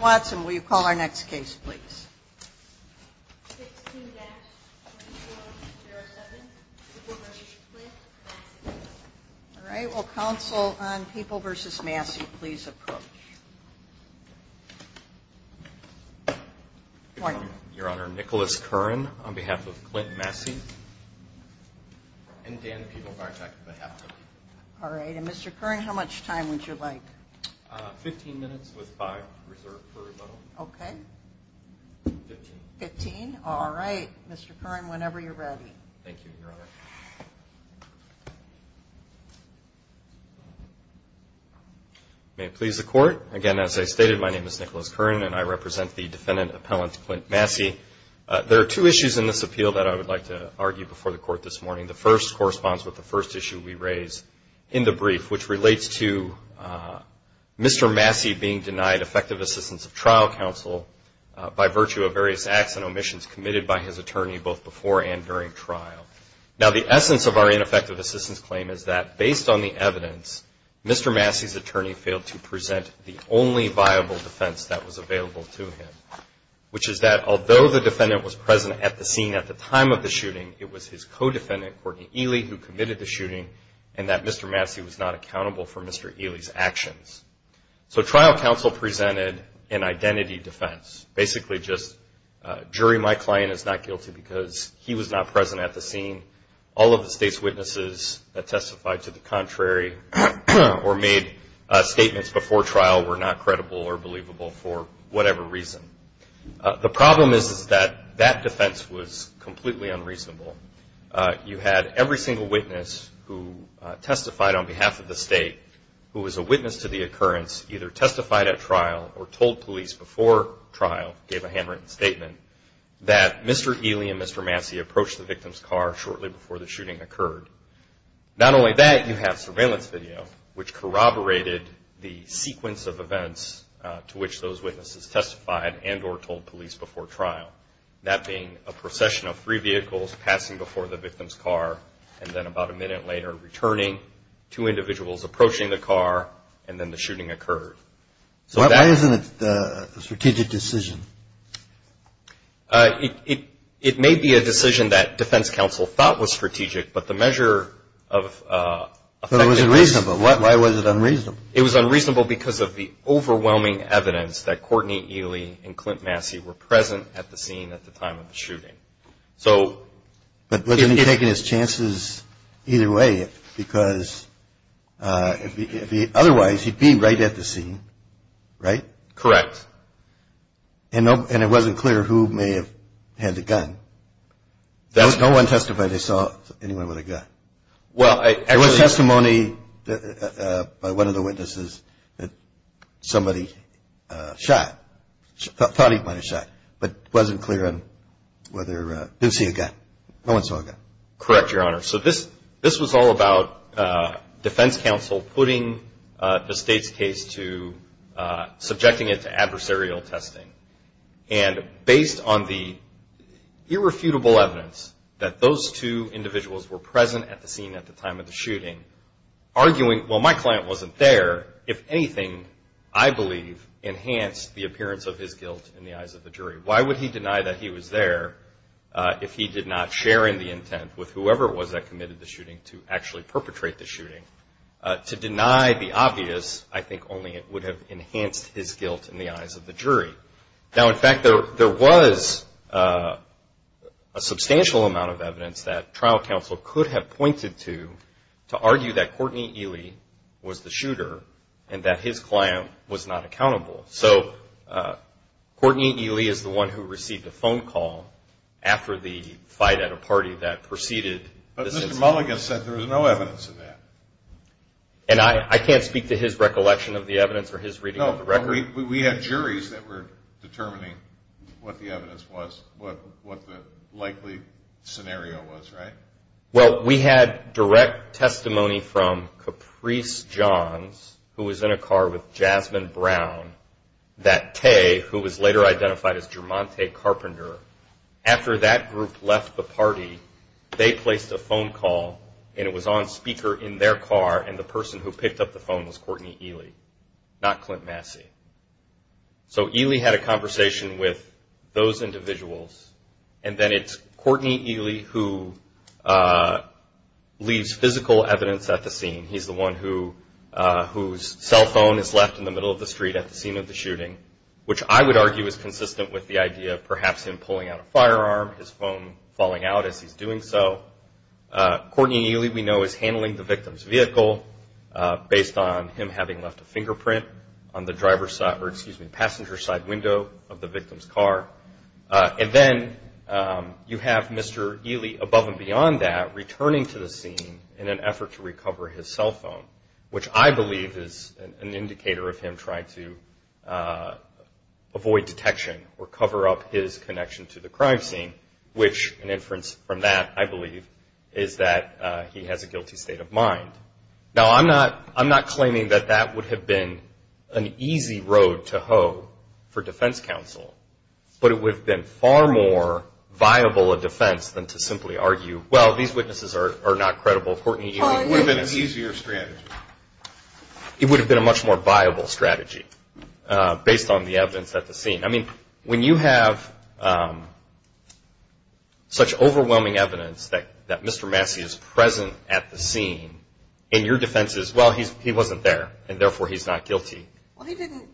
Watson, will you call our next case, please? All right. Will counsel on People v. Massey please approach? Your Honor, Nicholas Curran on behalf of Clint Massey. All right. And Mr. Curran, how much time would you like? Fifteen minutes with five reserved for rebuttal. Okay. Fifteen. Fifteen. All right. Mr. Curran, whenever you're ready. Thank you, Your Honor. May it please the Court. Again, as I stated, my name is Nicholas Curran, and I represent the defendant appellant, Clint Massey. There are two issues in this appeal that I would like to argue before the Court this morning. The first corresponds with the first issue we raised in the brief, which relates to Mr. Massey being denied effective assistance of trial counsel by virtue of various acts and omissions committed by his attorney both before and during trial. Now, the essence of our ineffective assistance claim is that, based on the evidence, Mr. Massey's attorney failed to present the only viable defense that was available to him, which is that although the defendant was present at the scene at the time of the shooting, it was his co-defendant, Courtney Ely, who committed the shooting, and that Mr. Massey was not accountable for Mr. Ely's actions. So trial counsel presented an identity defense, basically just, jury, my client is not guilty because he was not present at the scene. All of the state's witnesses that testified to the contrary or made statements before trial were not credible or believable for whatever reason. The problem is that that defense was completely unreasonable. You had every single witness who testified on behalf of the state, who was a witness to the occurrence, either testified at trial or told police before trial, gave a handwritten statement, that Mr. Ely and Mr. Massey approached the victim's car shortly before the shooting occurred. Not only that, you have surveillance video, which corroborated the sequence of events to which those witnesses testified and or told police before trial, that being a procession of three vehicles passing before the victim's car and then about a minute later returning, two individuals approaching the car, and then the shooting occurred. So why isn't it a strategic decision? It may be a decision that defense counsel thought was strategic, but the measure of effectiveness It was unreasonable. Why was it unreasonable? It was unreasonable because of the overwhelming evidence that Courtney Ely and Clint Massey were present at the scene at the time of the shooting. But wasn't he taking his chances either way? Because otherwise he'd be right at the scene, right? Correct. And it wasn't clear who may have had the gun. No one testified they saw anyone with a gun. There was testimony by one of the witnesses that somebody shot, thought he might have shot, but it wasn't clear whether he did see a gun. No one saw a gun. Correct, Your Honor. So this was all about defense counsel putting the state's case to, subjecting it to adversarial testing. And based on the irrefutable evidence that those two individuals were present at the scene at the time of the shooting, arguing, well, my client wasn't there, if anything, I believe, enhanced the appearance of his guilt in the eyes of the jury. Why would he deny that he was there if he did not share in the intent with whoever it was that committed the shooting to actually perpetrate the shooting? To deny the obvious, I think only it would have enhanced his guilt in the eyes of the jury. Now, in fact, there was a substantial amount of evidence that trial counsel could have pointed to to argue that Courtney Ely was the shooter and that his client was not accountable. So Courtney Ely is the one who received the phone call after the fight at a party that preceded the shooting. The apologist said there was no evidence of that. And I can't speak to his recollection of the evidence or his reading of the record? No, we had juries that were determining what the evidence was, what the likely scenario was, right? Well, we had direct testimony from Caprice Johns, who was in a car with Jasmine Brown, that Tay, who was later identified as Germontay Carpenter, after that group left the party, they placed a phone call, and it was on speaker in their car, and the person who picked up the phone was Courtney Ely, not Clint Massey. So Ely had a conversation with those individuals, and then it's Courtney Ely who leaves physical evidence at the scene. He's the one whose cell phone is left in the middle of the street at the scene of the shooting, which I would argue is consistent with the idea of perhaps him pulling out a firearm, his phone falling out as he's doing so. Courtney Ely, we know, is handling the victim's vehicle, based on him having left a fingerprint on the passenger side window of the victim's car. And then you have Mr. Ely, above and beyond that, returning to the scene in an effort to recover his cell phone, which I believe is an indicator of him trying to avoid detection or cover up his connection to the crime scene, which an inference from that, I believe, is that he has a guilty state of mind. Now, I'm not claiming that that would have been an easy road to hoe for defense counsel, but it would have been far more viable a defense than to simply argue, well, these witnesses are not credible. Courtney Ely would have been an easier strategy. It would have been a much more viable strategy, based on the evidence at the scene. I mean, when you have such overwhelming evidence that Mr. Massey is present at the scene, in your defense it's, well, he wasn't there, and therefore he's not guilty. Well, he didn't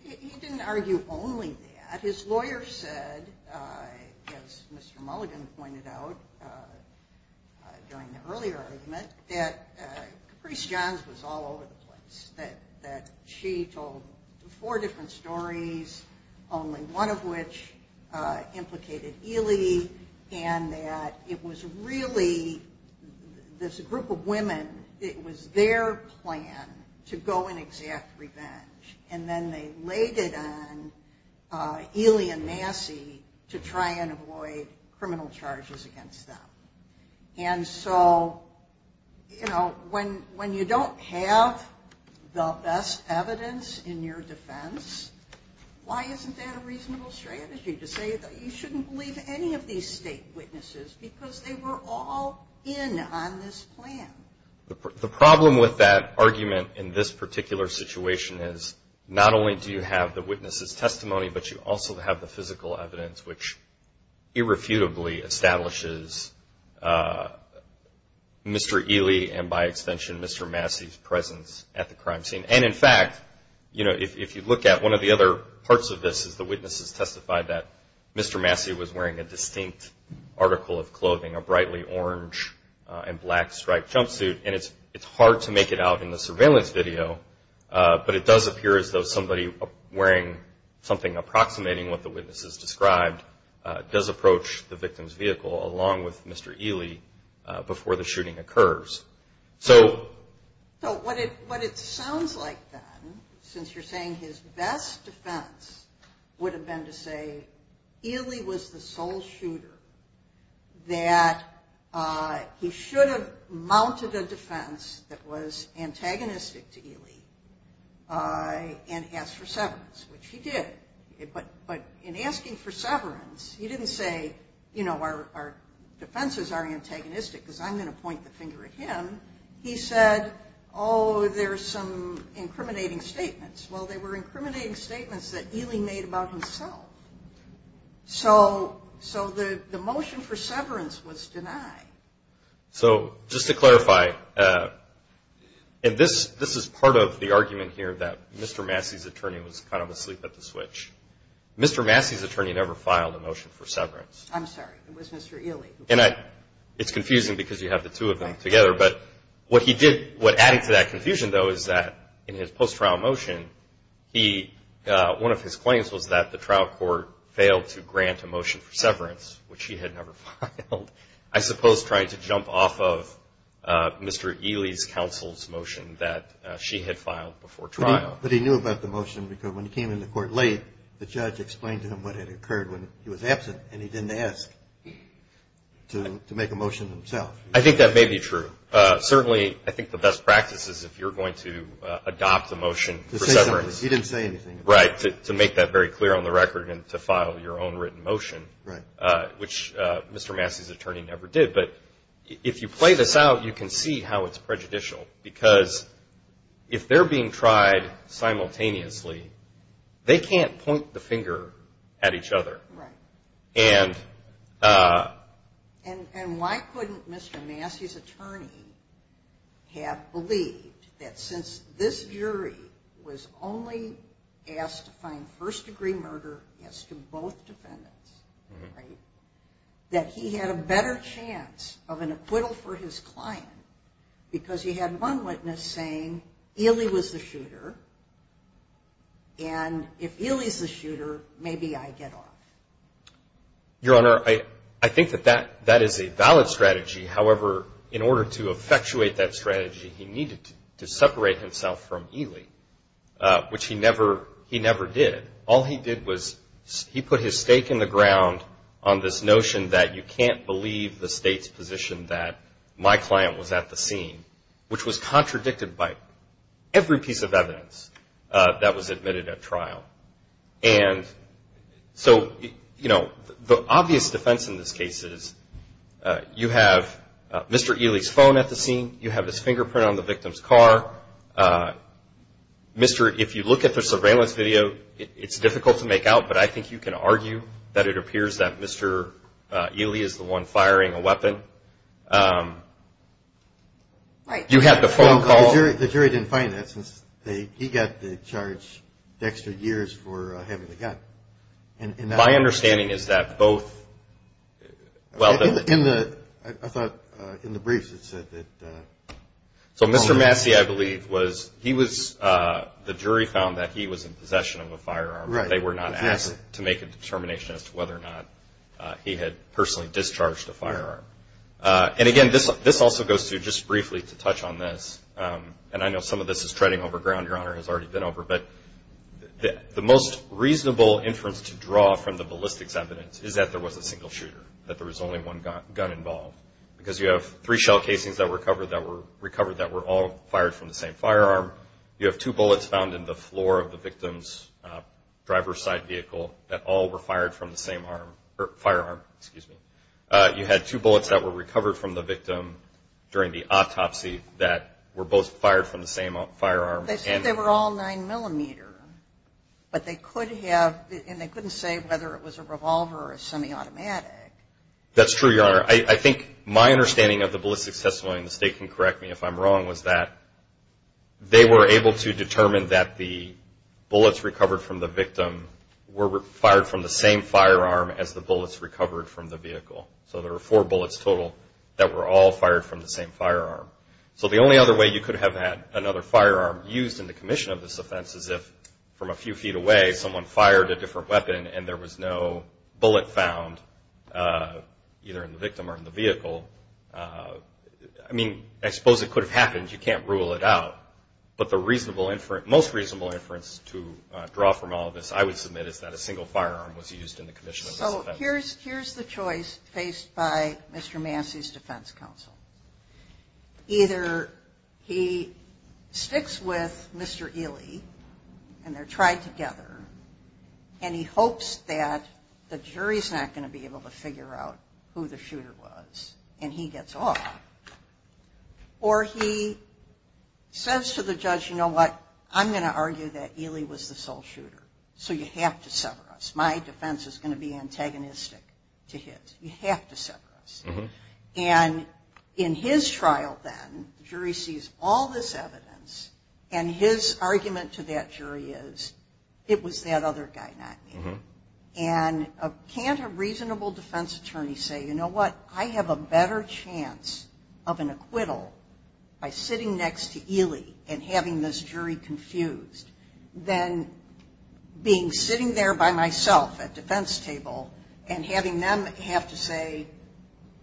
argue only that. His lawyer said, as Mr. Mulligan pointed out during the earlier argument, that Caprice Johns was all over the place, that she told four different stories, only one of which implicated Ely, and that it was really this group of women, it was their plan to go and exact revenge. And then they laid it on Ely and Massey to try and avoid criminal charges against them. And so, you know, when you don't have the best evidence in your defense, why isn't that a reasonable strategy to say that you shouldn't believe any of these state witnesses because they were all in on this plan? The problem with that argument in this particular situation is not only do you have the witness's testimony, but you also have the physical evidence, which irrefutably establishes Mr. Ely and, by extension, Mr. Massey's presence at the crime scene. And, in fact, you know, if you look at one of the other parts of this, is the witnesses testified that Mr. Massey was wearing a distinct article of clothing, a brightly orange and black striped jumpsuit. And it's hard to make it out in the surveillance video, but it does appear as though somebody wearing something approximating what the witnesses described does approach the victim's vehicle along with Mr. Ely before the shooting occurs. So what it sounds like then, since you're saying his best defense would have been to say Ely was the sole shooter that he should have mounted a defense that was antagonistic to Ely and asked for severance, which he did. But in asking for severance, he didn't say, you know, our defenses are antagonistic because I'm going to point the finger at him. He said, oh, there's some incriminating statements. Well, they were incriminating statements that Ely made about himself. So the motion for severance was denied. So just to clarify, and this is part of the argument here that Mr. Massey's attorney was kind of asleep at the switch. Mr. Massey's attorney never filed a motion for severance. I'm sorry. It was Mr. Ely. And it's confusing because you have the two of them together. But what he did, what added to that confusion, though, is that in his post-trial motion, one of his claims was that the trial court failed to grant a motion for severance, which he had never filed. I suppose trying to jump off of Mr. Ely's counsel's motion that she had filed before trial. But he knew about the motion because when he came into court late, the judge explained to him what had occurred when he was absent, and he didn't ask to make a motion himself. I think that may be true. Certainly, I think the best practice is if you're going to adopt a motion for severance. He didn't say anything. Right, to make that very clear on the record and to file your own written motion, which Mr. Massey's attorney never did. But if you play this out, you can see how it's prejudicial because if they're being tried simultaneously, they can't point the finger at each other. Right. And why couldn't Mr. Massey's attorney have believed that since this jury was only asked to find first-degree murder as to both defendants, that he had a better chance of an acquittal for his client because he had one witness saying, Ely was the shooter, and if Ely's the shooter, maybe I get off. Your Honor, I think that that is a valid strategy. However, in order to effectuate that strategy, he needed to separate himself from Ely, which he never did. All he did was he put his stake in the ground on this notion that you can't believe the state's position that my client was at the trial. And so, you know, the obvious defense in this case is you have Mr. Ely's phone at the scene. You have his fingerprint on the victim's car. Mr. – if you look at the surveillance video, it's difficult to make out, but I think you can argue that it appears that Mr. Ely is the one firing a weapon. Right. You had the phone call. The jury didn't find that since he got the charge of extra years for having the gun. My understanding is that both – In the – I thought in the briefs it said that – So Mr. Massey, I believe, was – he was – the jury found that he was in possession of a firearm. Right. They were not asked to make a determination as to whether or not he had personally discharged a firearm. And, again, this also goes to – just briefly to touch on this, and I know some of this is treading over ground, Your Honor, has already been over, but the most reasonable inference to draw from the ballistics evidence is that there was a single shooter, that there was only one gun involved. Because you have three shell casings that were recovered that were all fired from the same firearm. You have two bullets found in the floor of the victim's driver's side vehicle that all were fired from the same firearm. Excuse me. You had two bullets that were recovered from the victim during the autopsy that were both fired from the same firearm. They said they were all 9 millimeter, but they could have – and they couldn't say whether it was a revolver or a semi-automatic. That's true, Your Honor. I think my understanding of the ballistics testimony, and the State can correct me if I'm wrong, was that they were able to determine that the bullets recovered from the victim were fired from the same firearm as the bullets recovered from the vehicle. So there were four bullets total that were all fired from the same firearm. So the only other way you could have had another firearm used in the commission of this offense is if, from a few feet away, someone fired a different weapon and there was no bullet found, either in the victim or in the vehicle. I mean, I suppose it could have happened. You can't rule it out. But the most reasonable inference to draw from all of this, I would submit, is that a single firearm was used in the commission of this offense. So here's the choice faced by Mr. Massey's defense counsel. Either he sticks with Mr. Ely and they're tried together, and he hopes that the jury's not going to be able to figure out who the shooter was, and he gets off, or he says to the judge, you know what, I'm going to argue that Ely was the sole shooter, so you have to sever us. My defense is going to be antagonistic to his. You have to sever us. And in his trial, then, the jury sees all this evidence, and his argument to that jury is, it was that other guy, not me. And can't a reasonable defense attorney say, you know what, I have a better chance of an acquittal by sitting next to Ely and having this jury confused than being sitting there by myself at defense table and having them have to say,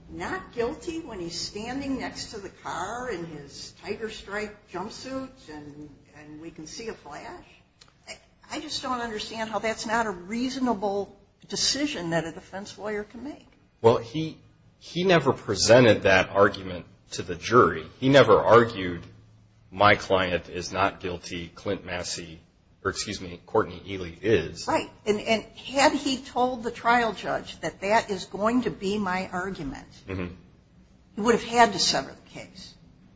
not guilty when he's standing next to the car in his Tiger Strike jumpsuit and we can see a flash? I just don't understand how that's not a reasonable decision that a defense lawyer can make. Well, he never presented that argument to the jury. He never argued, my client is not guilty, Clint Massey, or excuse me, Courtney Ely is. Right. And had he told the trial judge that that is going to be my argument, he would have had to sever the case.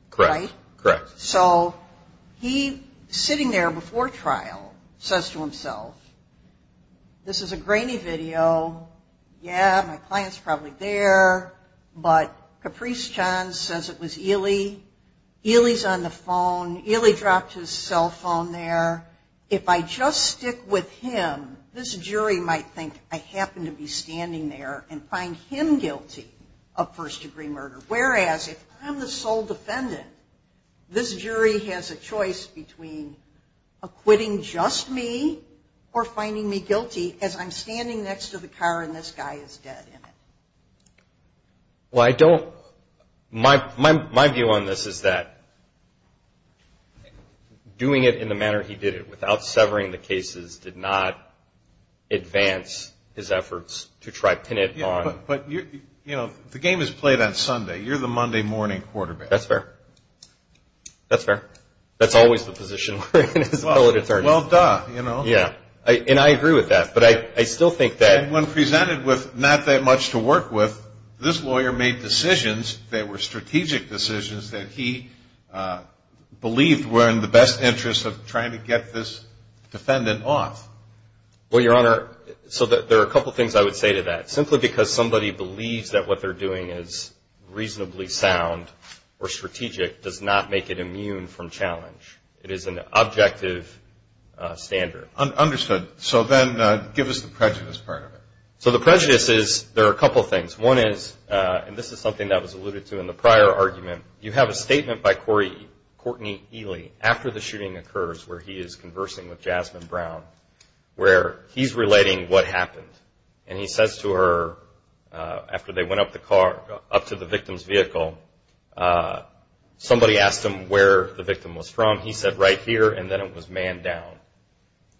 Correct. Right? Correct. So he, sitting there before trial, says to himself, this is a grainy video. Yeah, my client's probably there, but Caprice Johns says it was Ely. Ely's on the phone. Ely dropped his cell phone there. If I just stick with him, this jury might think I happen to be standing there and find him guilty of first-degree murder. Whereas, if I'm the sole defendant, this jury has a choice between acquitting just me or finding me guilty as I'm standing next to the car and this guy is dead in it. Well, I don't, my view on this is that doing it in the manner he did it, without severing the cases, did not advance his efforts to try to pin it on. But, you know, the game is played on Sunday. You're the Monday morning quarterback. That's fair. That's fair. That's always the position. Well, duh, you know. Yeah. And I agree with that. But I still think that. And when presented with not that much to work with, this lawyer made decisions that were strategic decisions that he believed were in the best interest of trying to get this defendant off. Well, Your Honor, so there are a couple things I would say to that. Simply because somebody believes that what they're doing is reasonably sound or strategic does not make it immune from challenge. It is an objective standard. Understood. So then give us the prejudice part of it. So the prejudice is there are a couple things. One is, and this is something that was alluded to in the prior argument, you have a statement by Courtney Ely after the shooting occurs where he is conversing with Jasmine Brown, where he's relating what happened. And he says to her, after they went up to the victim's vehicle, somebody asked him where the victim was from. He said, right here. And then it was manned down.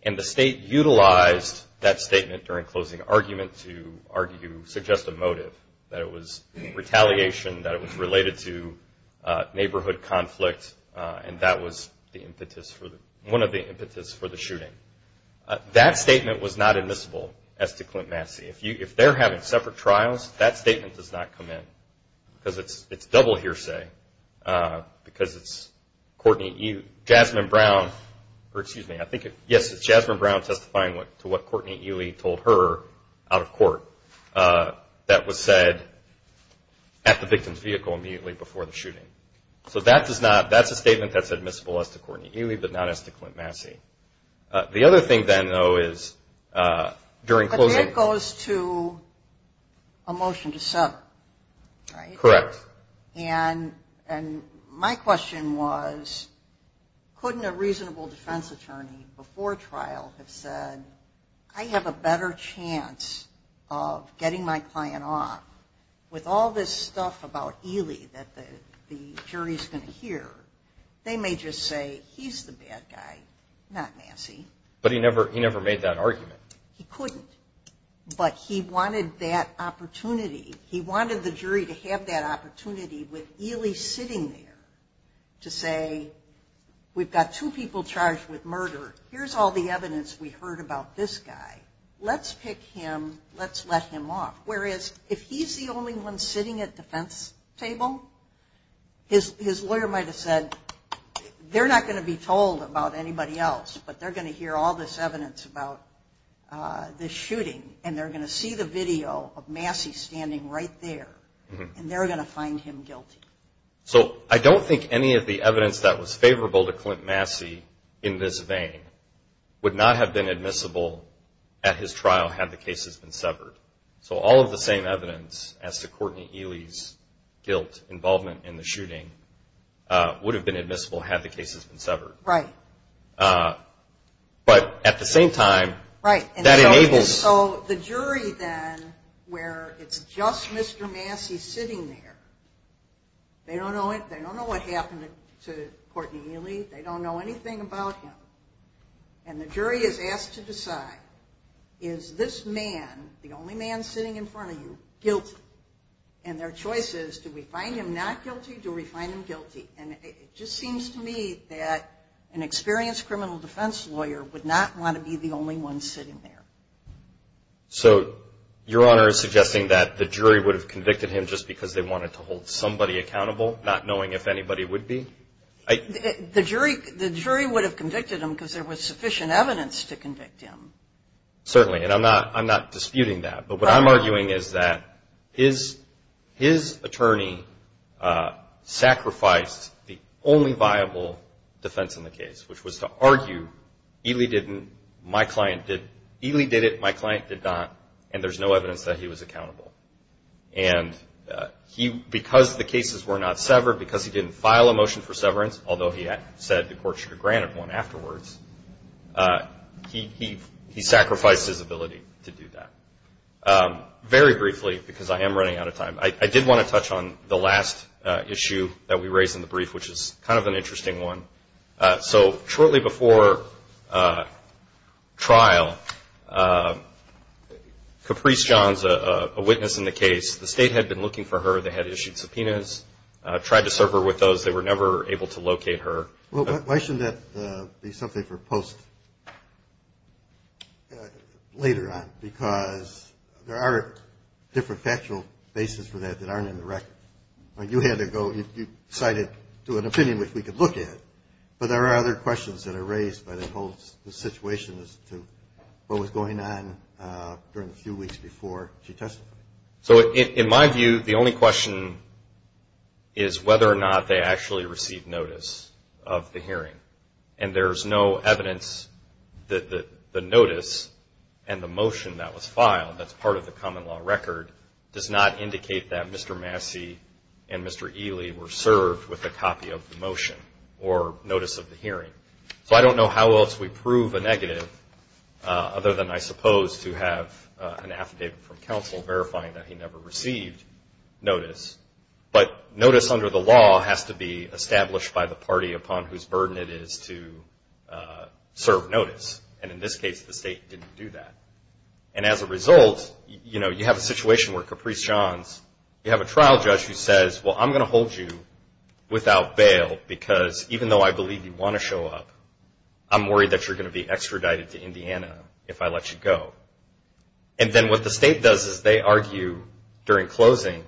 And the state utilized that statement during closing argument to argue, suggest a motive, that it was retaliation, that it was related to neighborhood conflict, and that was one of the impetus for the shooting. That statement was not admissible as to Clint Massey. If they're having separate trials, that statement does not come in because it's double hearsay, because it's Jasmine Brown testifying to what Courtney Ely told her out of court that was said at the victim's vehicle immediately before the shooting. So that does not, that's a statement that's admissible as to Courtney Ely, but not as to Clint Massey. The other thing then, though, is during closing. But then it goes to a motion to sever, right? Correct. And my question was, couldn't a reasonable defense attorney before trial have said, I have a better chance of getting my client off with all this stuff about Ely that the jury's going to hear? They may just say, he's the bad guy, not Massey. But he never made that argument. He couldn't. But he wanted that opportunity. He wanted the jury to have that opportunity with Ely sitting there to say, we've got two people charged with murder. Here's all the evidence we heard about this guy. Let's pick him. Let's let him off. Whereas, if he's the only one sitting at the defense table, his lawyer might have said, they're not going to be told about anybody else, but they're going to hear all this evidence about this shooting, and they're going to see the video of Massey standing right there, and they're going to find him guilty. So I don't think any of the evidence that was favorable to Clint Massey in this vein would not have been admissible at his trial had the cases been severed. So all of the same evidence as to Courtney Ely's guilt, involvement in the shooting, would have been admissible had the cases been severed. Right. But at the same time, that enables the jury then, where it's just Mr. Massey sitting there, they don't know what happened to Courtney Ely, they don't know anything about him, and the jury is asked to decide, is this man, the only man sitting in front of you, guilty? And their choice is, do we find him not guilty, do we find him guilty? And it just seems to me that an experienced criminal defense lawyer would not want to be the only one sitting there. So Your Honor is suggesting that the jury would have convicted him just because they wanted to hold somebody accountable, not knowing if anybody would be? The jury would have convicted him because there was sufficient evidence to convict him. Certainly, and I'm not disputing that. But what I'm arguing is that his attorney sacrificed the only viable defense in the case, which was to argue, Ely did it, my client did not, and there's no evidence that he was accountable. And because the cases were not severed, because he didn't file a motion for severance, although he said the court should have granted one afterwards, he sacrificed his ability to do that. Very briefly, because I am running out of time, I did want to touch on the last issue that we raised in the brief, which is kind of an interesting one. So shortly before trial, Caprice Johns, a witness in the case, the state had been looking for her. They had issued subpoenas, tried to serve her with those. They were never able to locate her. Why shouldn't that be something for post later on? Because there are different factual basis for that that aren't in the record. You cited an opinion which we could look at, but there are other questions that are raised by the situation as to what was going on during the few weeks before she testified. So in my view, the only question is whether or not they actually received notice of the hearing. And there's no evidence that the notice and the motion that was filed that's part of the common law record does not indicate that Mr. Massey and Mr. Ely were served with a copy of the motion or notice of the hearing. So I don't know how else we prove a negative other than, I suppose, to have an affidavit from counsel verifying that he never received notice. But notice under the law has to be established by the party upon whose burden it is to serve notice. And in this case, the state didn't do that. And as a result, you know, you have a situation where Caprice Johns, you have a trial judge who says, well, I'm going to hold you without bail because even though I believe you want to show up, I'm worried that you're going to be extradited to Indiana if I let you go. And then what the state does is they argue during closing,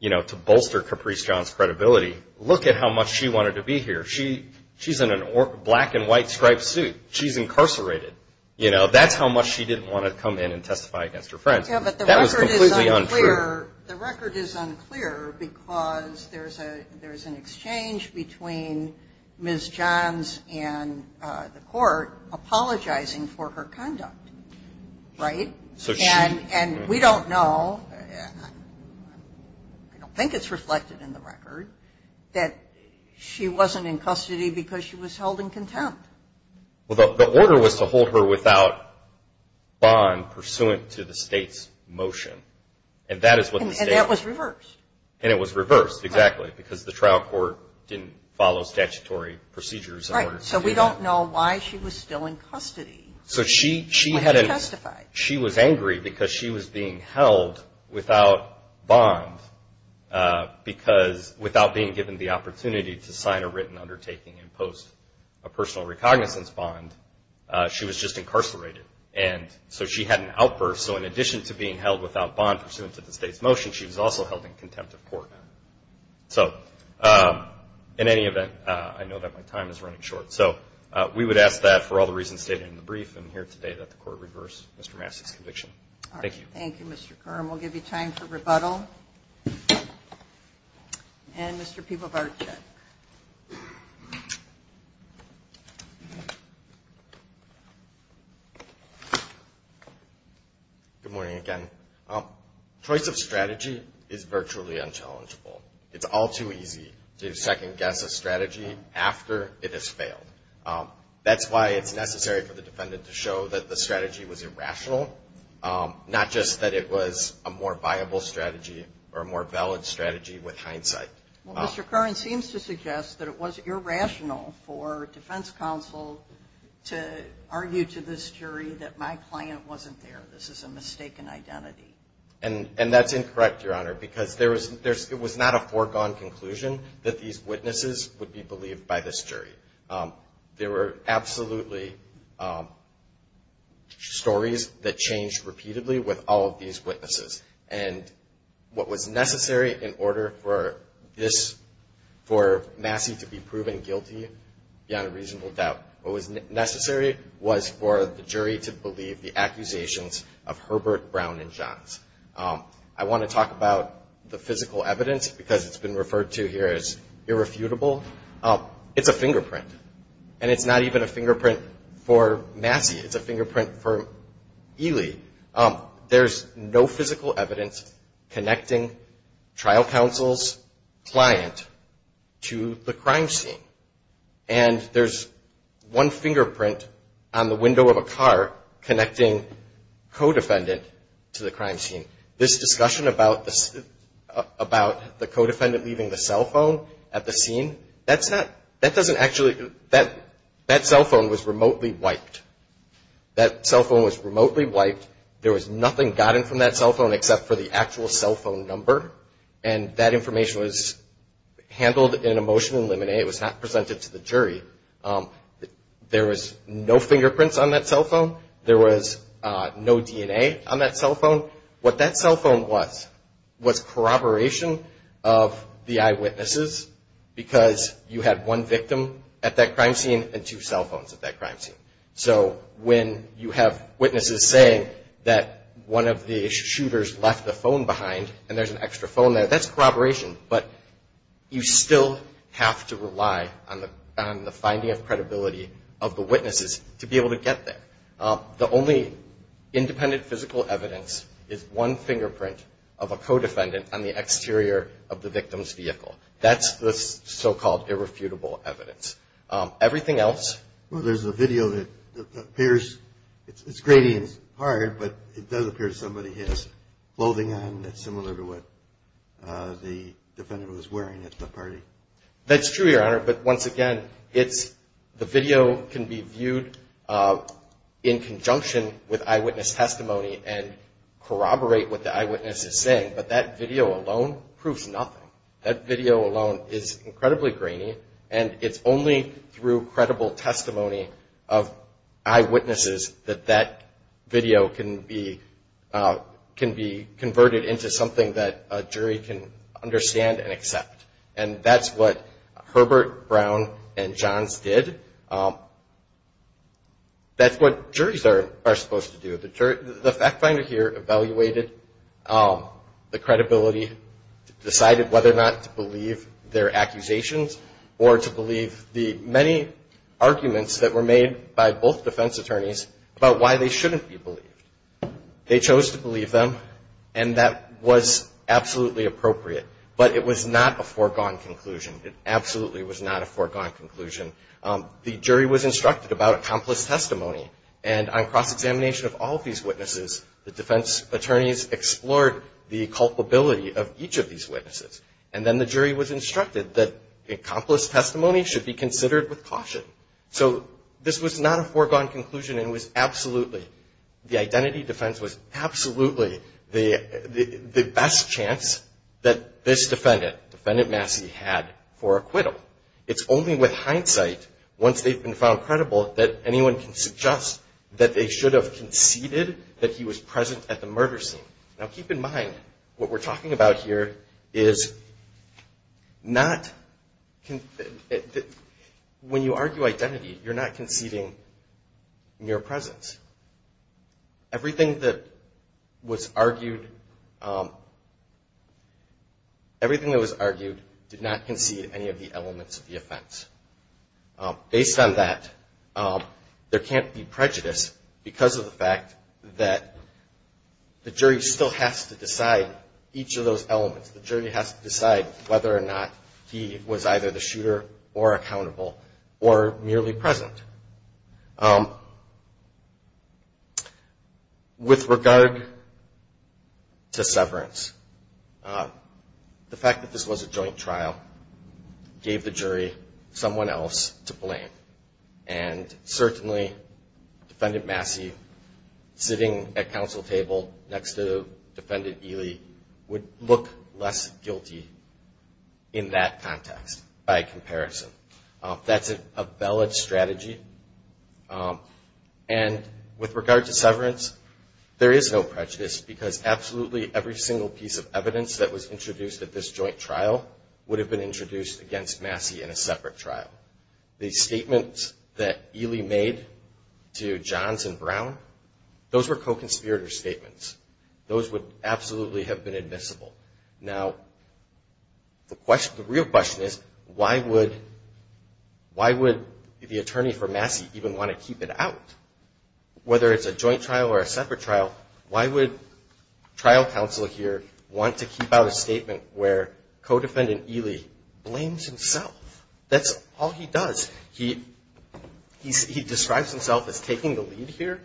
you know, to bolster Caprice Johns' credibility, look at how much she wanted to be here. She's in a black and white striped suit. She's incarcerated. You know, that's how much she didn't want to come in and testify against her friends. That was completely untrue. Yeah, but the record is unclear because there's an exchange between Ms. Johns and the court apologizing for her conduct, right? And we don't know, I don't think it's reflected in the record, that she wasn't in custody because she was held in contempt. Well, the order was to hold her without bond pursuant to the state's motion. And that is what the state. And that was reversed. And it was reversed, exactly, because the trial court didn't follow statutory procedures. Right, so we don't know why she was still in custody when she testified. She was angry because she was being held without bond because, without being given the opportunity to sign a written undertaking and post a personal recognizance bond, she was just incarcerated. And so she had an outburst. So in addition to being held without bond pursuant to the state's motion, she was also held in contempt of court. So in any event, I know that my time is running short. So we would ask that, for all the reasons stated in the brief and here today, that the court reverse Mr. Massey's conviction. Thank you. Thank you, Mr. Kern. We'll give you time for rebuttal. And Mr. Pibovarczyk. Good morning again. Choice of strategy is virtually unchallengeable. It's all too easy to second-guess a strategy after it has failed. That's why it's necessary for the defendant to show that the strategy was irrational, not just that it was a more viable strategy or a more valid strategy with hindsight. Well, Mr. Kern seems to suggest that it was irrational for defense counsel to argue to this jury that my client wasn't there. This is a mistaken identity. And that's incorrect, Your Honor, because it was not a foregone conclusion that these witnesses would be believed by this jury. There were absolutely stories that changed repeatedly with all of these witnesses. And what was necessary in order for this, for Massey to be proven guilty, beyond a reasonable doubt, what was necessary was for the jury to believe the accusations of Herbert, Brown, and Johns. I want to talk about the physical evidence because it's been referred to here as irrefutable. It's a fingerprint. And it's not even a fingerprint for Massey. It's a fingerprint for Ely. There's no physical evidence connecting trial counsel's client to the crime scene. And there's one fingerprint on the window of a car connecting co-defendant to the crime scene. This discussion about the co-defendant leaving the cell phone at the scene, that's not, that doesn't actually, that cell phone was remotely wiped. That cell phone was remotely wiped. There was nothing gotten from that cell phone except for the actual cell phone number. And that information was handled in a motion in limine. It was not presented to the jury. There was no fingerprints on that cell phone. There was no DNA on that cell phone. What that cell phone was was corroboration of the eyewitnesses because you had one victim at that crime scene and two cell phones at that crime scene. So when you have witnesses saying that one of the shooters left the phone behind and there's an extra phone there, that's corroboration. But you still have to rely on the finding of credibility of the witnesses to be able to get there. The only independent physical evidence is one fingerprint of a co-defendant on the exterior of the victim's vehicle. That's the so-called irrefutable evidence. Everything else. Well, there's a video that appears, it's gritty and it's hard, but it does appear somebody has clothing on that's similar to what the defendant was wearing at the party. That's true, Your Honor. But once again, the video can be viewed in conjunction with eyewitness testimony and corroborate what the eyewitness is saying, but that video alone proves nothing. That video alone is incredibly grainy and it's only through credible testimony of eyewitnesses that that video can be converted into something that a jury can understand and accept. And that's what Herbert, Brown, and Johns did. That's what juries are supposed to do. The fact finder here evaluated the credibility, decided whether or not to believe their accusations or to believe the many arguments that were made by both defense attorneys about why they shouldn't be believed. They chose to believe them, and that was absolutely appropriate. But it was not a foregone conclusion. It absolutely was not a foregone conclusion. The jury was instructed about accomplice testimony, and on cross-examination of all of these witnesses, the defense attorneys explored the culpability of each of these witnesses. And then the jury was instructed that accomplice testimony should be considered with caution. So this was not a foregone conclusion. It was absolutely, the identity defense was absolutely the best chance that this defendant, Defendant Massey, had for acquittal. It's only with hindsight, once they've been found credible, that anyone can suggest that they should have conceded that he was present at the murder scene. Now keep in mind, what we're talking about here is not, when you argue identity, you're not conceding mere presence. Everything that was argued, everything that was argued did not concede any of the elements of the offense. Based on that, there can't be prejudice because of the fact that the jury still has to decide each of those elements. The jury has to decide whether or not he was either the shooter or accountable or merely present. With regard to severance, the fact that this was a joint trial gave the jury someone else to blame. And certainly, Defendant Massey sitting at counsel table next to Defendant Ely would look less guilty in that context by comparison. That's a valid strategy. And with regard to severance, there is no prejudice because absolutely every single piece of evidence that was introduced at this joint trial would have been introduced against Massey in a separate trial. The statements that Ely made to Johns and Brown, those were co-conspirator statements. Those would absolutely have been admissible. Now, the real question is, why would the attorney for Massey even want to keep it out? Whether it's a joint trial or a separate trial, why would trial counsel here want to keep out a statement where co-defendant Ely blames himself? That's all he does. He describes himself as taking the lead here.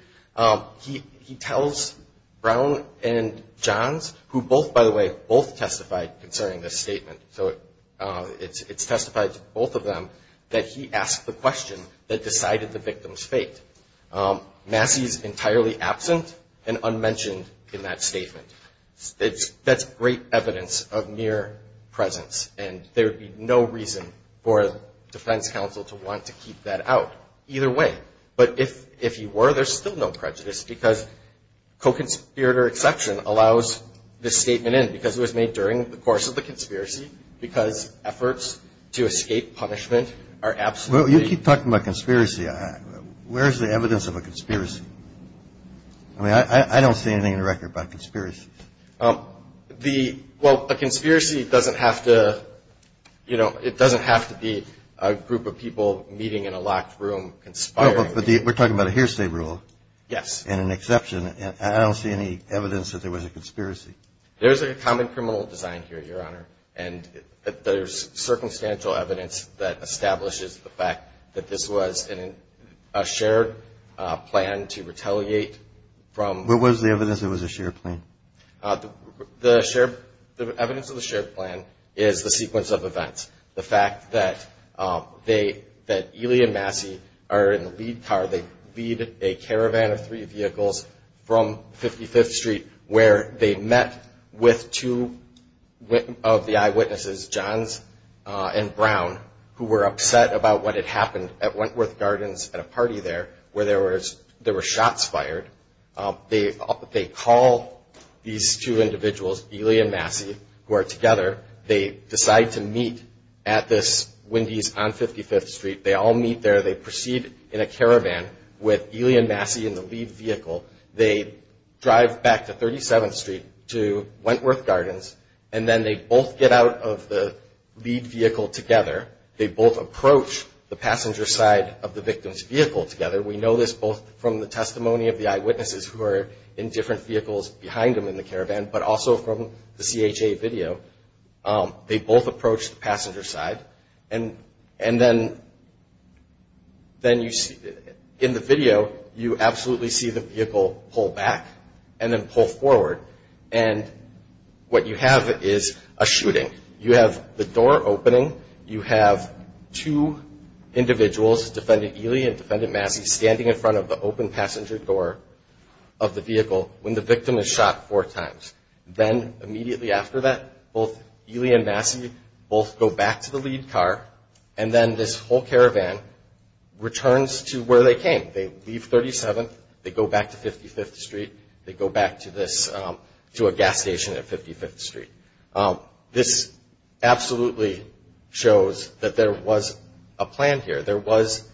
He tells Brown and Johns, who both, by the way, both testified concerning this statement. So it's testified to both of them that he asked the question that decided the victim's fate. Massey is entirely absent and unmentioned in that statement. That's great evidence of mere presence. And there would be no reason for defense counsel to want to keep that out either way. But if he were, there's still no prejudice because co-conspirator exception allows this statement in because it was made during the course of the conspiracy, because efforts to escape punishment are absolutely... Well, you keep talking about conspiracy. Where's the evidence of a conspiracy? I mean, I don't see anything in the record about conspiracy. Well, a conspiracy doesn't have to, you know, it doesn't have to be a group of people meeting in a locked room conspiring. But we're talking about a hearsay rule. Yes. And an exception. I don't see any evidence that there was a conspiracy. There's a common criminal design here, Your Honor. And there's circumstantial evidence that establishes the fact that this was a shared plan to retaliate from... What was the evidence it was a shared plan? The evidence of the shared plan is the sequence of events. The fact that Ely and Massey are in the lead car. They lead a caravan of three vehicles from 55th Street where they met with two of the eyewitnesses, Johns and Brown, who were upset about what had happened at Wentworth Gardens at a party there where there were shots fired. They call these two individuals, Ely and Massey, who are together. They decide to meet at this Wendy's on 55th Street. They all meet there. They proceed in a caravan with Ely and Massey in the lead vehicle. They drive back to 37th Street to Wentworth Gardens, and then they both get out of the lead vehicle together. They both approach the passenger side of the victim's vehicle together. We know this both from the testimony of the eyewitnesses who are in different vehicles behind them in the caravan, but also from the CHA video. They both approach the passenger side. And then in the video, you absolutely see the vehicle pull back and then pull forward. And what you have is a shooting. You have the door opening. You have two individuals, Defendant Ely and Defendant Massey, standing in front of the open passenger door of the vehicle when the victim is shot four times. Then immediately after that, both Ely and Massey both go back to the lead car, and then this whole caravan returns to where they came. They leave 37th. They go back to 55th Street. They go back to a gas station at 55th Street. This absolutely shows that there was a plan here. There was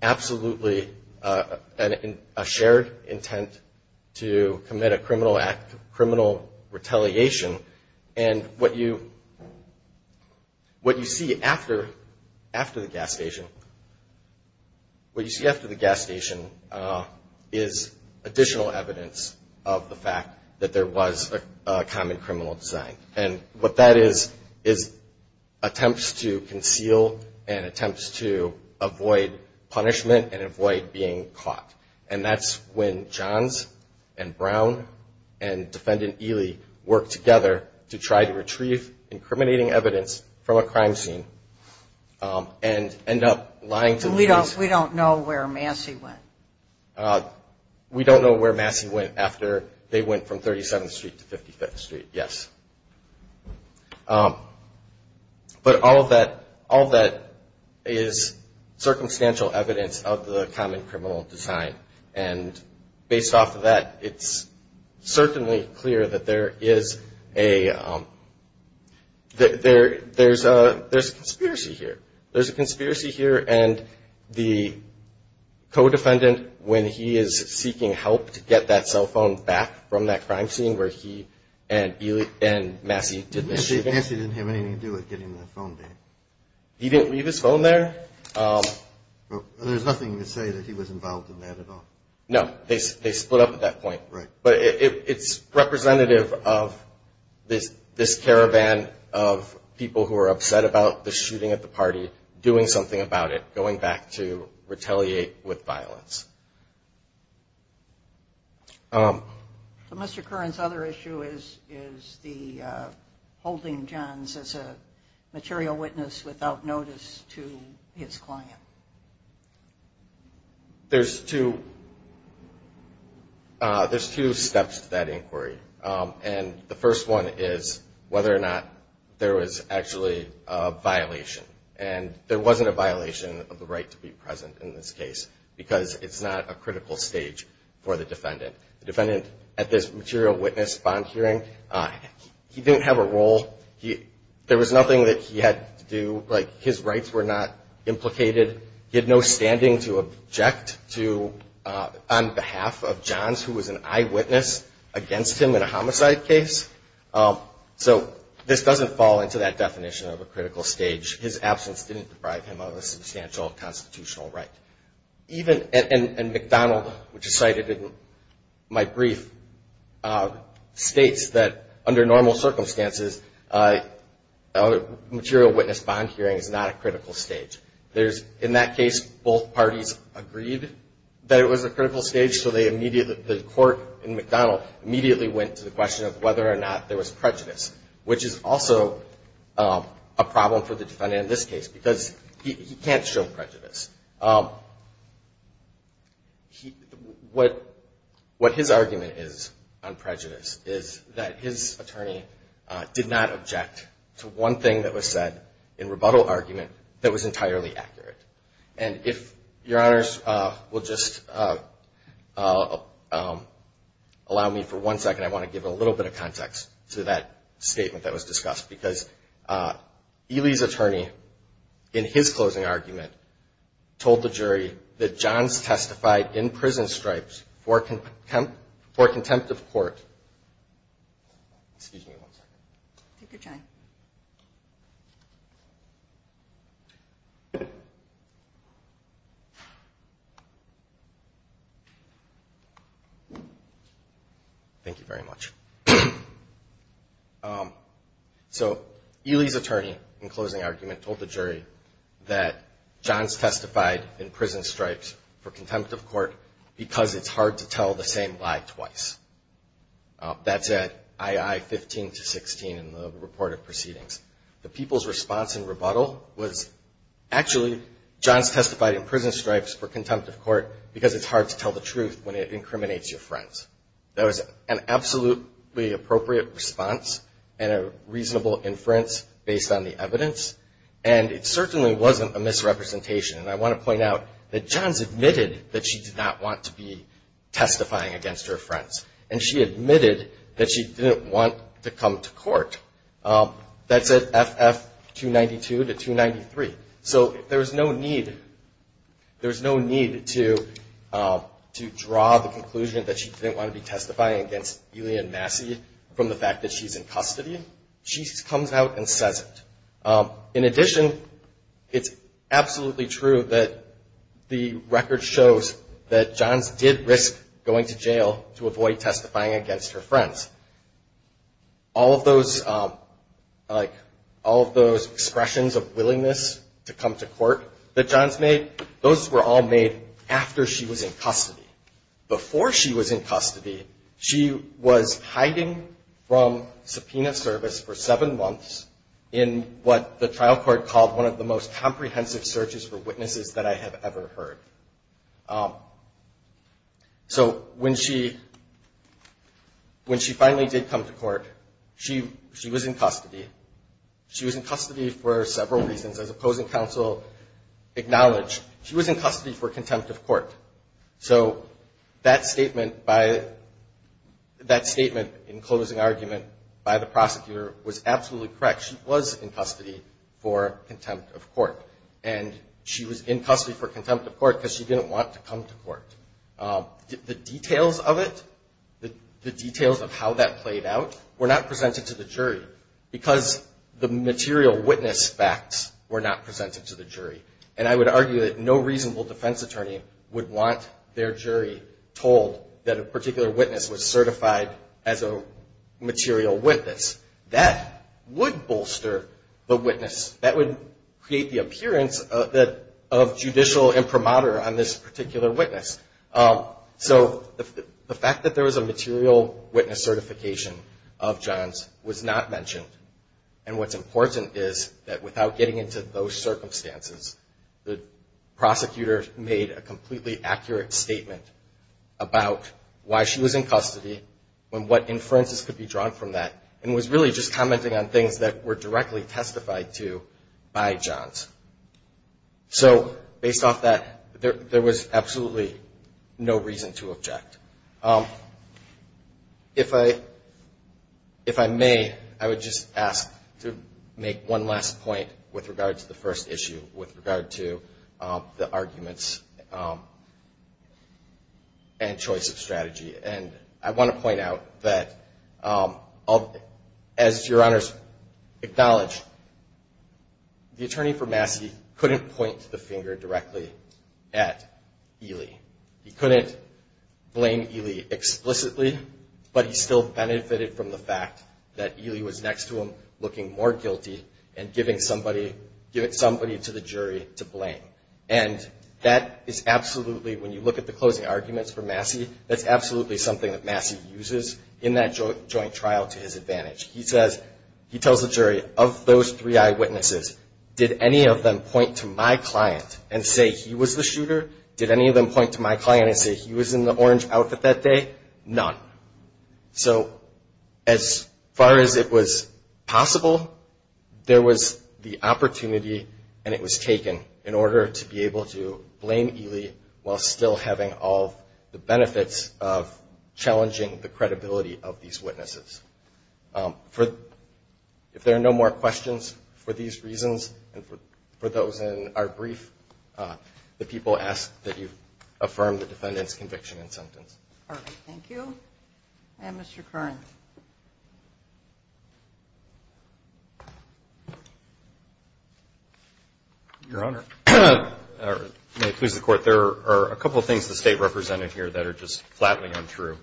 absolutely a shared intent to commit a criminal act, criminal retaliation. And what you see after the gas station is additional evidence of the fact that there was a common criminal design. And what that is is attempts to conceal and attempts to avoid punishment and avoid being caught. And that's when Johns and Brown and Defendant Ely work together to try to retrieve incriminating evidence from a crime scene and end up lying to the police. We don't know where Massey went. We don't know where Massey went after they went from 37th Street to 55th Street. Yes. But all of that is circumstantial evidence of the common criminal design. And based off of that, it's certainly clear that there is a conspiracy here. And the co-defendant, when he is seeking help to get that cell phone back from that crime scene where he and Massey did the shooting. Massey didn't have anything to do with getting that phone back. He didn't leave his phone there. There's nothing to say that he was involved in that at all. No. They split up at that point. Right. But it's representative of this caravan of people who are upset about the shooting at the party doing something about it, going back to retaliate with violence. So Mr. Curran's other issue is the holding Johns as a material witness without notice to his client. There's two steps to that inquiry. And the first one is whether or not there was actually a violation. And there wasn't a violation of the right to be present in this case because it's not a critical stage for the defendant. The defendant, at this material witness bond hearing, he didn't have a role. There was nothing that he had to do. Like, his rights were not implicated. He had no standing to object on behalf of Johns, who was an eyewitness against him in a homicide case. So this doesn't fall into that definition of a critical stage. His absence didn't deprive him of a substantial constitutional right. And McDonald, which is cited in my brief, states that under normal circumstances, a material witness bond hearing is not a critical stage. In that case, both parties agreed that it was a critical stage, so the court in McDonald immediately went to the question of whether or not there was prejudice, which is also a problem for the defendant in this case because he can't show prejudice. What his argument is on prejudice is that his attorney did not object to one thing that was said in rebuttal argument that was entirely accurate. And if Your Honors will just allow me for one second, I want to give a little bit of context to that statement that was discussed. Because Ely's attorney, in his closing argument, told the jury that Johns testified in prison stripes for contempt of court. Excuse me one second. Take your time. Thank you. Thank you very much. So Ely's attorney, in closing argument, told the jury that Johns testified in prison stripes for contempt of court because it's hard to tell the same lie twice. That's at I.I. 15 to 16 in the report of proceedings. The people's response in rebuttal was, actually, Johns testified in prison stripes for contempt of court because it's hard to tell the truth when it incriminates your friends. That was an absolutely appropriate response and a reasonable inference based on the evidence, and it certainly wasn't a misrepresentation. And I want to point out that Johns admitted that she did not want to be testifying against her friends, and she admitted that she didn't want to come to court. That's at F.F. 292 to 293. So there's no need to draw the conclusion that she didn't want to be testifying against Ely and Massey from the fact that she's in custody. She comes out and says it. In addition, it's absolutely true that the record shows that Johns did risk going to jail to avoid testifying against her friends. All of those expressions of willingness to come to court that Johns made, those were all made after she was in custody. Before she was in custody, she was hiding from subpoena service for seven months in what the trial court called one of the most comprehensive searches for witnesses that I have ever heard. So when she finally did come to court, she was in custody. She was in custody for several reasons. As opposing counsel acknowledged, she was in custody for contempt of court. So that statement in closing argument by the prosecutor was absolutely correct. She was in custody for contempt of court. And she was in custody for contempt of court because she didn't want to come to court. The details of it, the details of how that played out were not presented to the jury because the material witness facts were not presented to the jury. And I would argue that no reasonable defense attorney would want their jury told that a particular witness was certified as a material witness. That would bolster the witness. That would create the appearance of judicial imprimatur on this particular witness. So the fact that there was a material witness certification of Johns was not mentioned. And what's important is that without getting into those circumstances, the prosecutor made a completely accurate statement about why she was in custody and what inferences could be drawn from that and was really just commenting on things that were directly testified to by Johns. So based off that, there was absolutely no reason to object. If I may, I would just ask to make one last point with regard to the first issue with regard to the arguments and choice of strategy. And I want to point out that as Your Honors acknowledged, the attorney for Massey couldn't point the finger directly at Ely. He couldn't blame Ely explicitly, but he still benefited from the fact that Ely was next to him looking more guilty and giving somebody to the jury to blame. And that is absolutely, when you look at the closing arguments for Massey, that's absolutely something that Massey uses in that joint trial to his advantage. He says, he tells the jury, of those three eyewitnesses, did any of them point to my client and say he was the shooter? Did any of them point to my client and say he was in the orange outfit that day? None. So as far as it was possible, there was the opportunity and it was taken in order to be able to blame Ely while still having all the benefits of challenging the credibility of these witnesses. If there are no more questions for these reasons and for those in our brief, the people ask that you affirm the defendant's conviction and sentence. Thank you. And Mr. Kern. Your Honor, may it please the Court, there are a couple of things the State represented here that are just flatly untrue.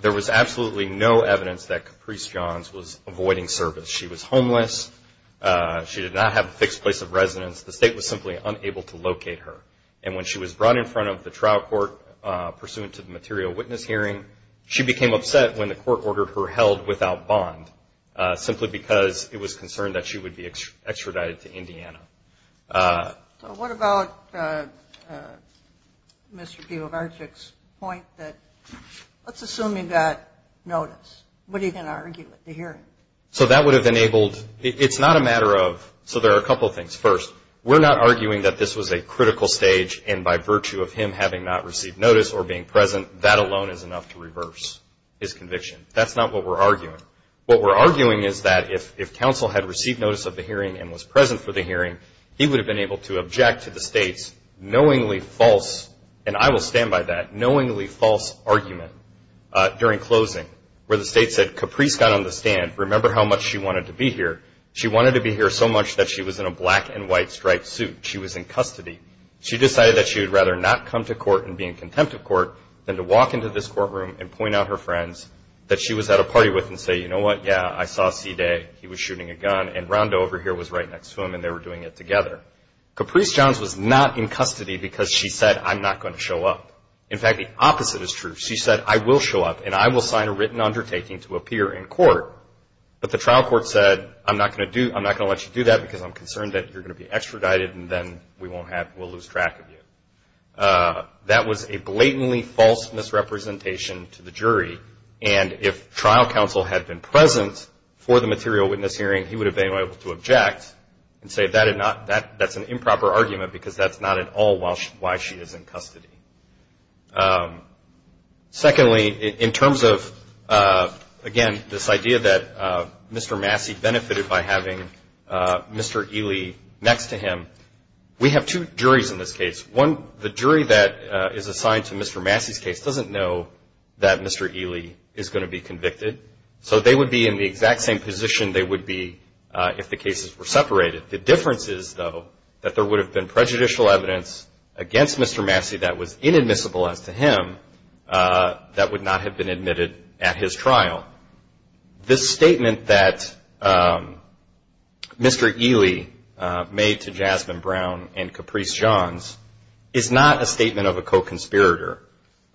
There was absolutely no evidence that Caprice Johns was avoiding service. She was homeless. She did not have a fixed place of residence. The State was simply unable to locate her. And when she was brought in front of the trial court pursuant to the material witness hearing, she became upset when the court ordered her held without bond simply because it was concerned that she would be extradited to Indiana. So what about Mr. Dvobarczyk's point that let's assume he got notice. What are you going to argue at the hearing? So that would have enabled – it's not a matter of – so there are a couple of things. First, we're not arguing that this was a critical stage and by virtue of him having not received notice or being present, that alone is enough to reverse his conviction. That's not what we're arguing. What we're arguing is that if counsel had received notice of the hearing and was present for the hearing, he would have been able to object to the State's knowingly false – and I will stand by that – knowingly false argument during closing where the State said Caprice got on the stand. Remember how much she wanted to be here. She wanted to be here so much that she was in a black and white striped suit. She was in custody. She decided that she would rather not come to court and be in contempt of court than to walk into this courtroom and point out her friends that she was at a party with and say, you know what, yeah, I saw C. Day. He was shooting a gun and Rondo over here was right next to him and they were doing it together. Caprice Johns was not in custody because she said, I'm not going to show up. In fact, the opposite is true. She said, I will show up and I will sign a written undertaking to appear in court, but the trial court said, I'm not going to let you do that because I'm concerned that you're going to be extradited That was a blatantly false misrepresentation to the jury, and if trial counsel had been present for the material witness hearing, he would have been able to object and say that's an improper argument because that's not at all why she is in custody. Secondly, in terms of, again, this idea that Mr. Massey benefited by having Mr. Ely next to him, we have two juries in this case. One, the jury that is assigned to Mr. Massey's case doesn't know that Mr. Ely is going to be convicted, so they would be in the exact same position they would be if the cases were separated. The difference is, though, that there would have been prejudicial evidence against Mr. Massey that was inadmissible as to him that would not have been admitted at his trial. Now, this statement that Mr. Ely made to Jasmine Brown and Caprice Johns is not a statement of a co-conspirator.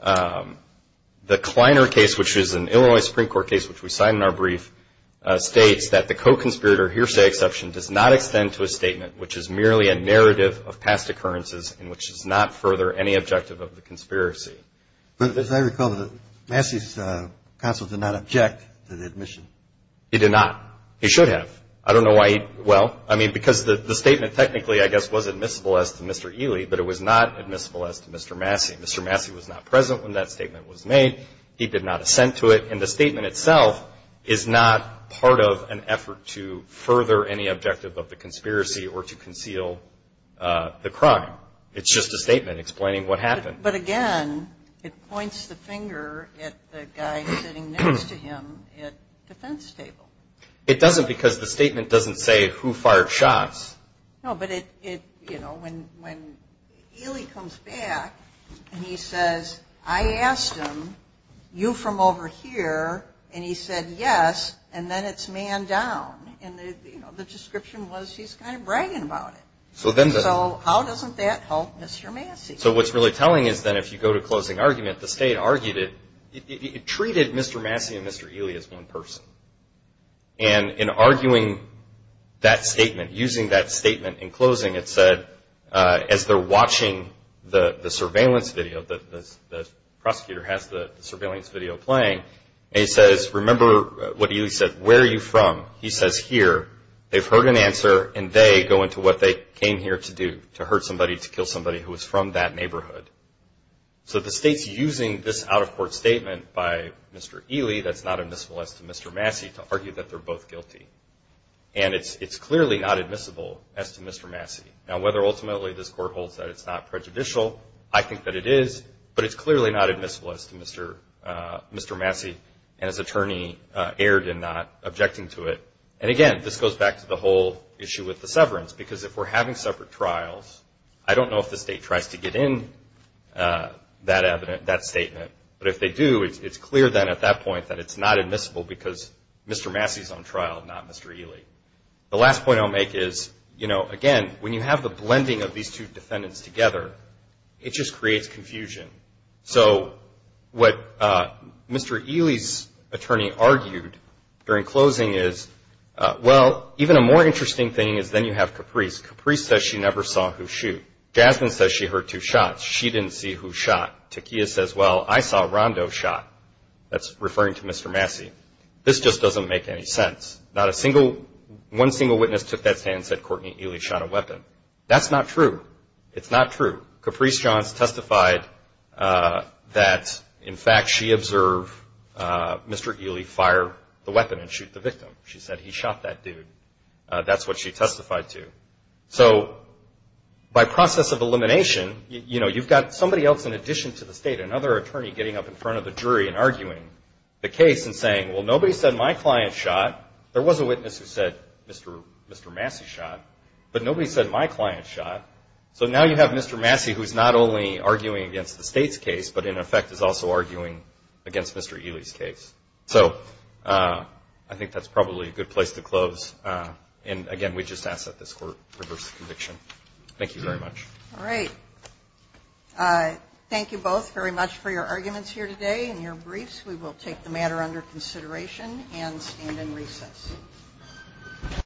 The Kleiner case, which is an Illinois Supreme Court case which we signed in our brief, states that the co-conspirator hearsay exception does not extend to a statement which is merely a narrative of past occurrences and which does not further any objective of the conspiracy. But as I recall, Massey's counsel did not object to the admission. He did not. He should have. I don't know why he – well, I mean, because the statement technically, I guess, was admissible as to Mr. Ely, but it was not admissible as to Mr. Massey. Mr. Massey was not present when that statement was made. He did not assent to it. And the statement itself is not part of an effort to further any objective of the conspiracy or to conceal the crime. It's just a statement explaining what happened. But, again, it points the finger at the guy sitting next to him at the fence table. It doesn't because the statement doesn't say who fired shots. No, but it, you know, when Ely comes back and he says, I asked him, you from over here, and he said yes, and then it's man down. And the description was he's kind of bragging about it. So how doesn't that help Mr. Massey? So what's really telling is that if you go to closing argument, the state argued it, it treated Mr. Massey and Mr. Ely as one person. And in arguing that statement, using that statement in closing, it said as they're watching the surveillance video, the prosecutor has the surveillance video playing, and he says, remember what Ely said, where are you from? He says here. They've heard an answer, and they go into what they came here to do, to hurt somebody, to kill somebody who was from that neighborhood. So the state's using this out-of-court statement by Mr. Ely that's not admissible as to Mr. Massey to argue that they're both guilty. And it's clearly not admissible as to Mr. Massey. Now, whether ultimately this court holds that it's not prejudicial, I think that it is, but it's clearly not admissible as to Mr. Massey and his attorney erred in not objecting to it. And, again, this goes back to the whole issue with the severance, because if we're having separate trials, I don't know if the state tries to get in that statement, but if they do, it's clear then at that point that it's not admissible because Mr. Massey is on trial, not Mr. Ely. The last point I'll make is, you know, again, when you have the blending of these two defendants together, it just creates confusion. So what Mr. Ely's attorney argued during closing is, well, even a more interesting thing is then you have Caprice. Caprice says she never saw who shot. Jasmine says she heard two shots. She didn't see who shot. Takiyah says, well, I saw Rondo shot. That's referring to Mr. Massey. This just doesn't make any sense. Not a single one single witness took that stand and said Courtney Ely shot a weapon. That's not true. It's not true. Caprice Johns testified that, in fact, she observed Mr. Ely fire the weapon and shoot the victim. She said he shot that dude. That's what she testified to. So by process of elimination, you know, you've got somebody else in addition to the state, another attorney getting up in front of the jury and arguing the case and saying, well, nobody said my client shot. There was a witness who said Mr. Massey shot, but nobody said my client shot. So now you have Mr. Massey who's not only arguing against the state's case, but in effect is also arguing against Mr. Ely's case. So I think that's probably a good place to close. And, again, we just ask that this court reverse the conviction. Thank you very much. All right. Thank you both very much for your arguments here today and your briefs. We will take the matter under consideration and stand in recess.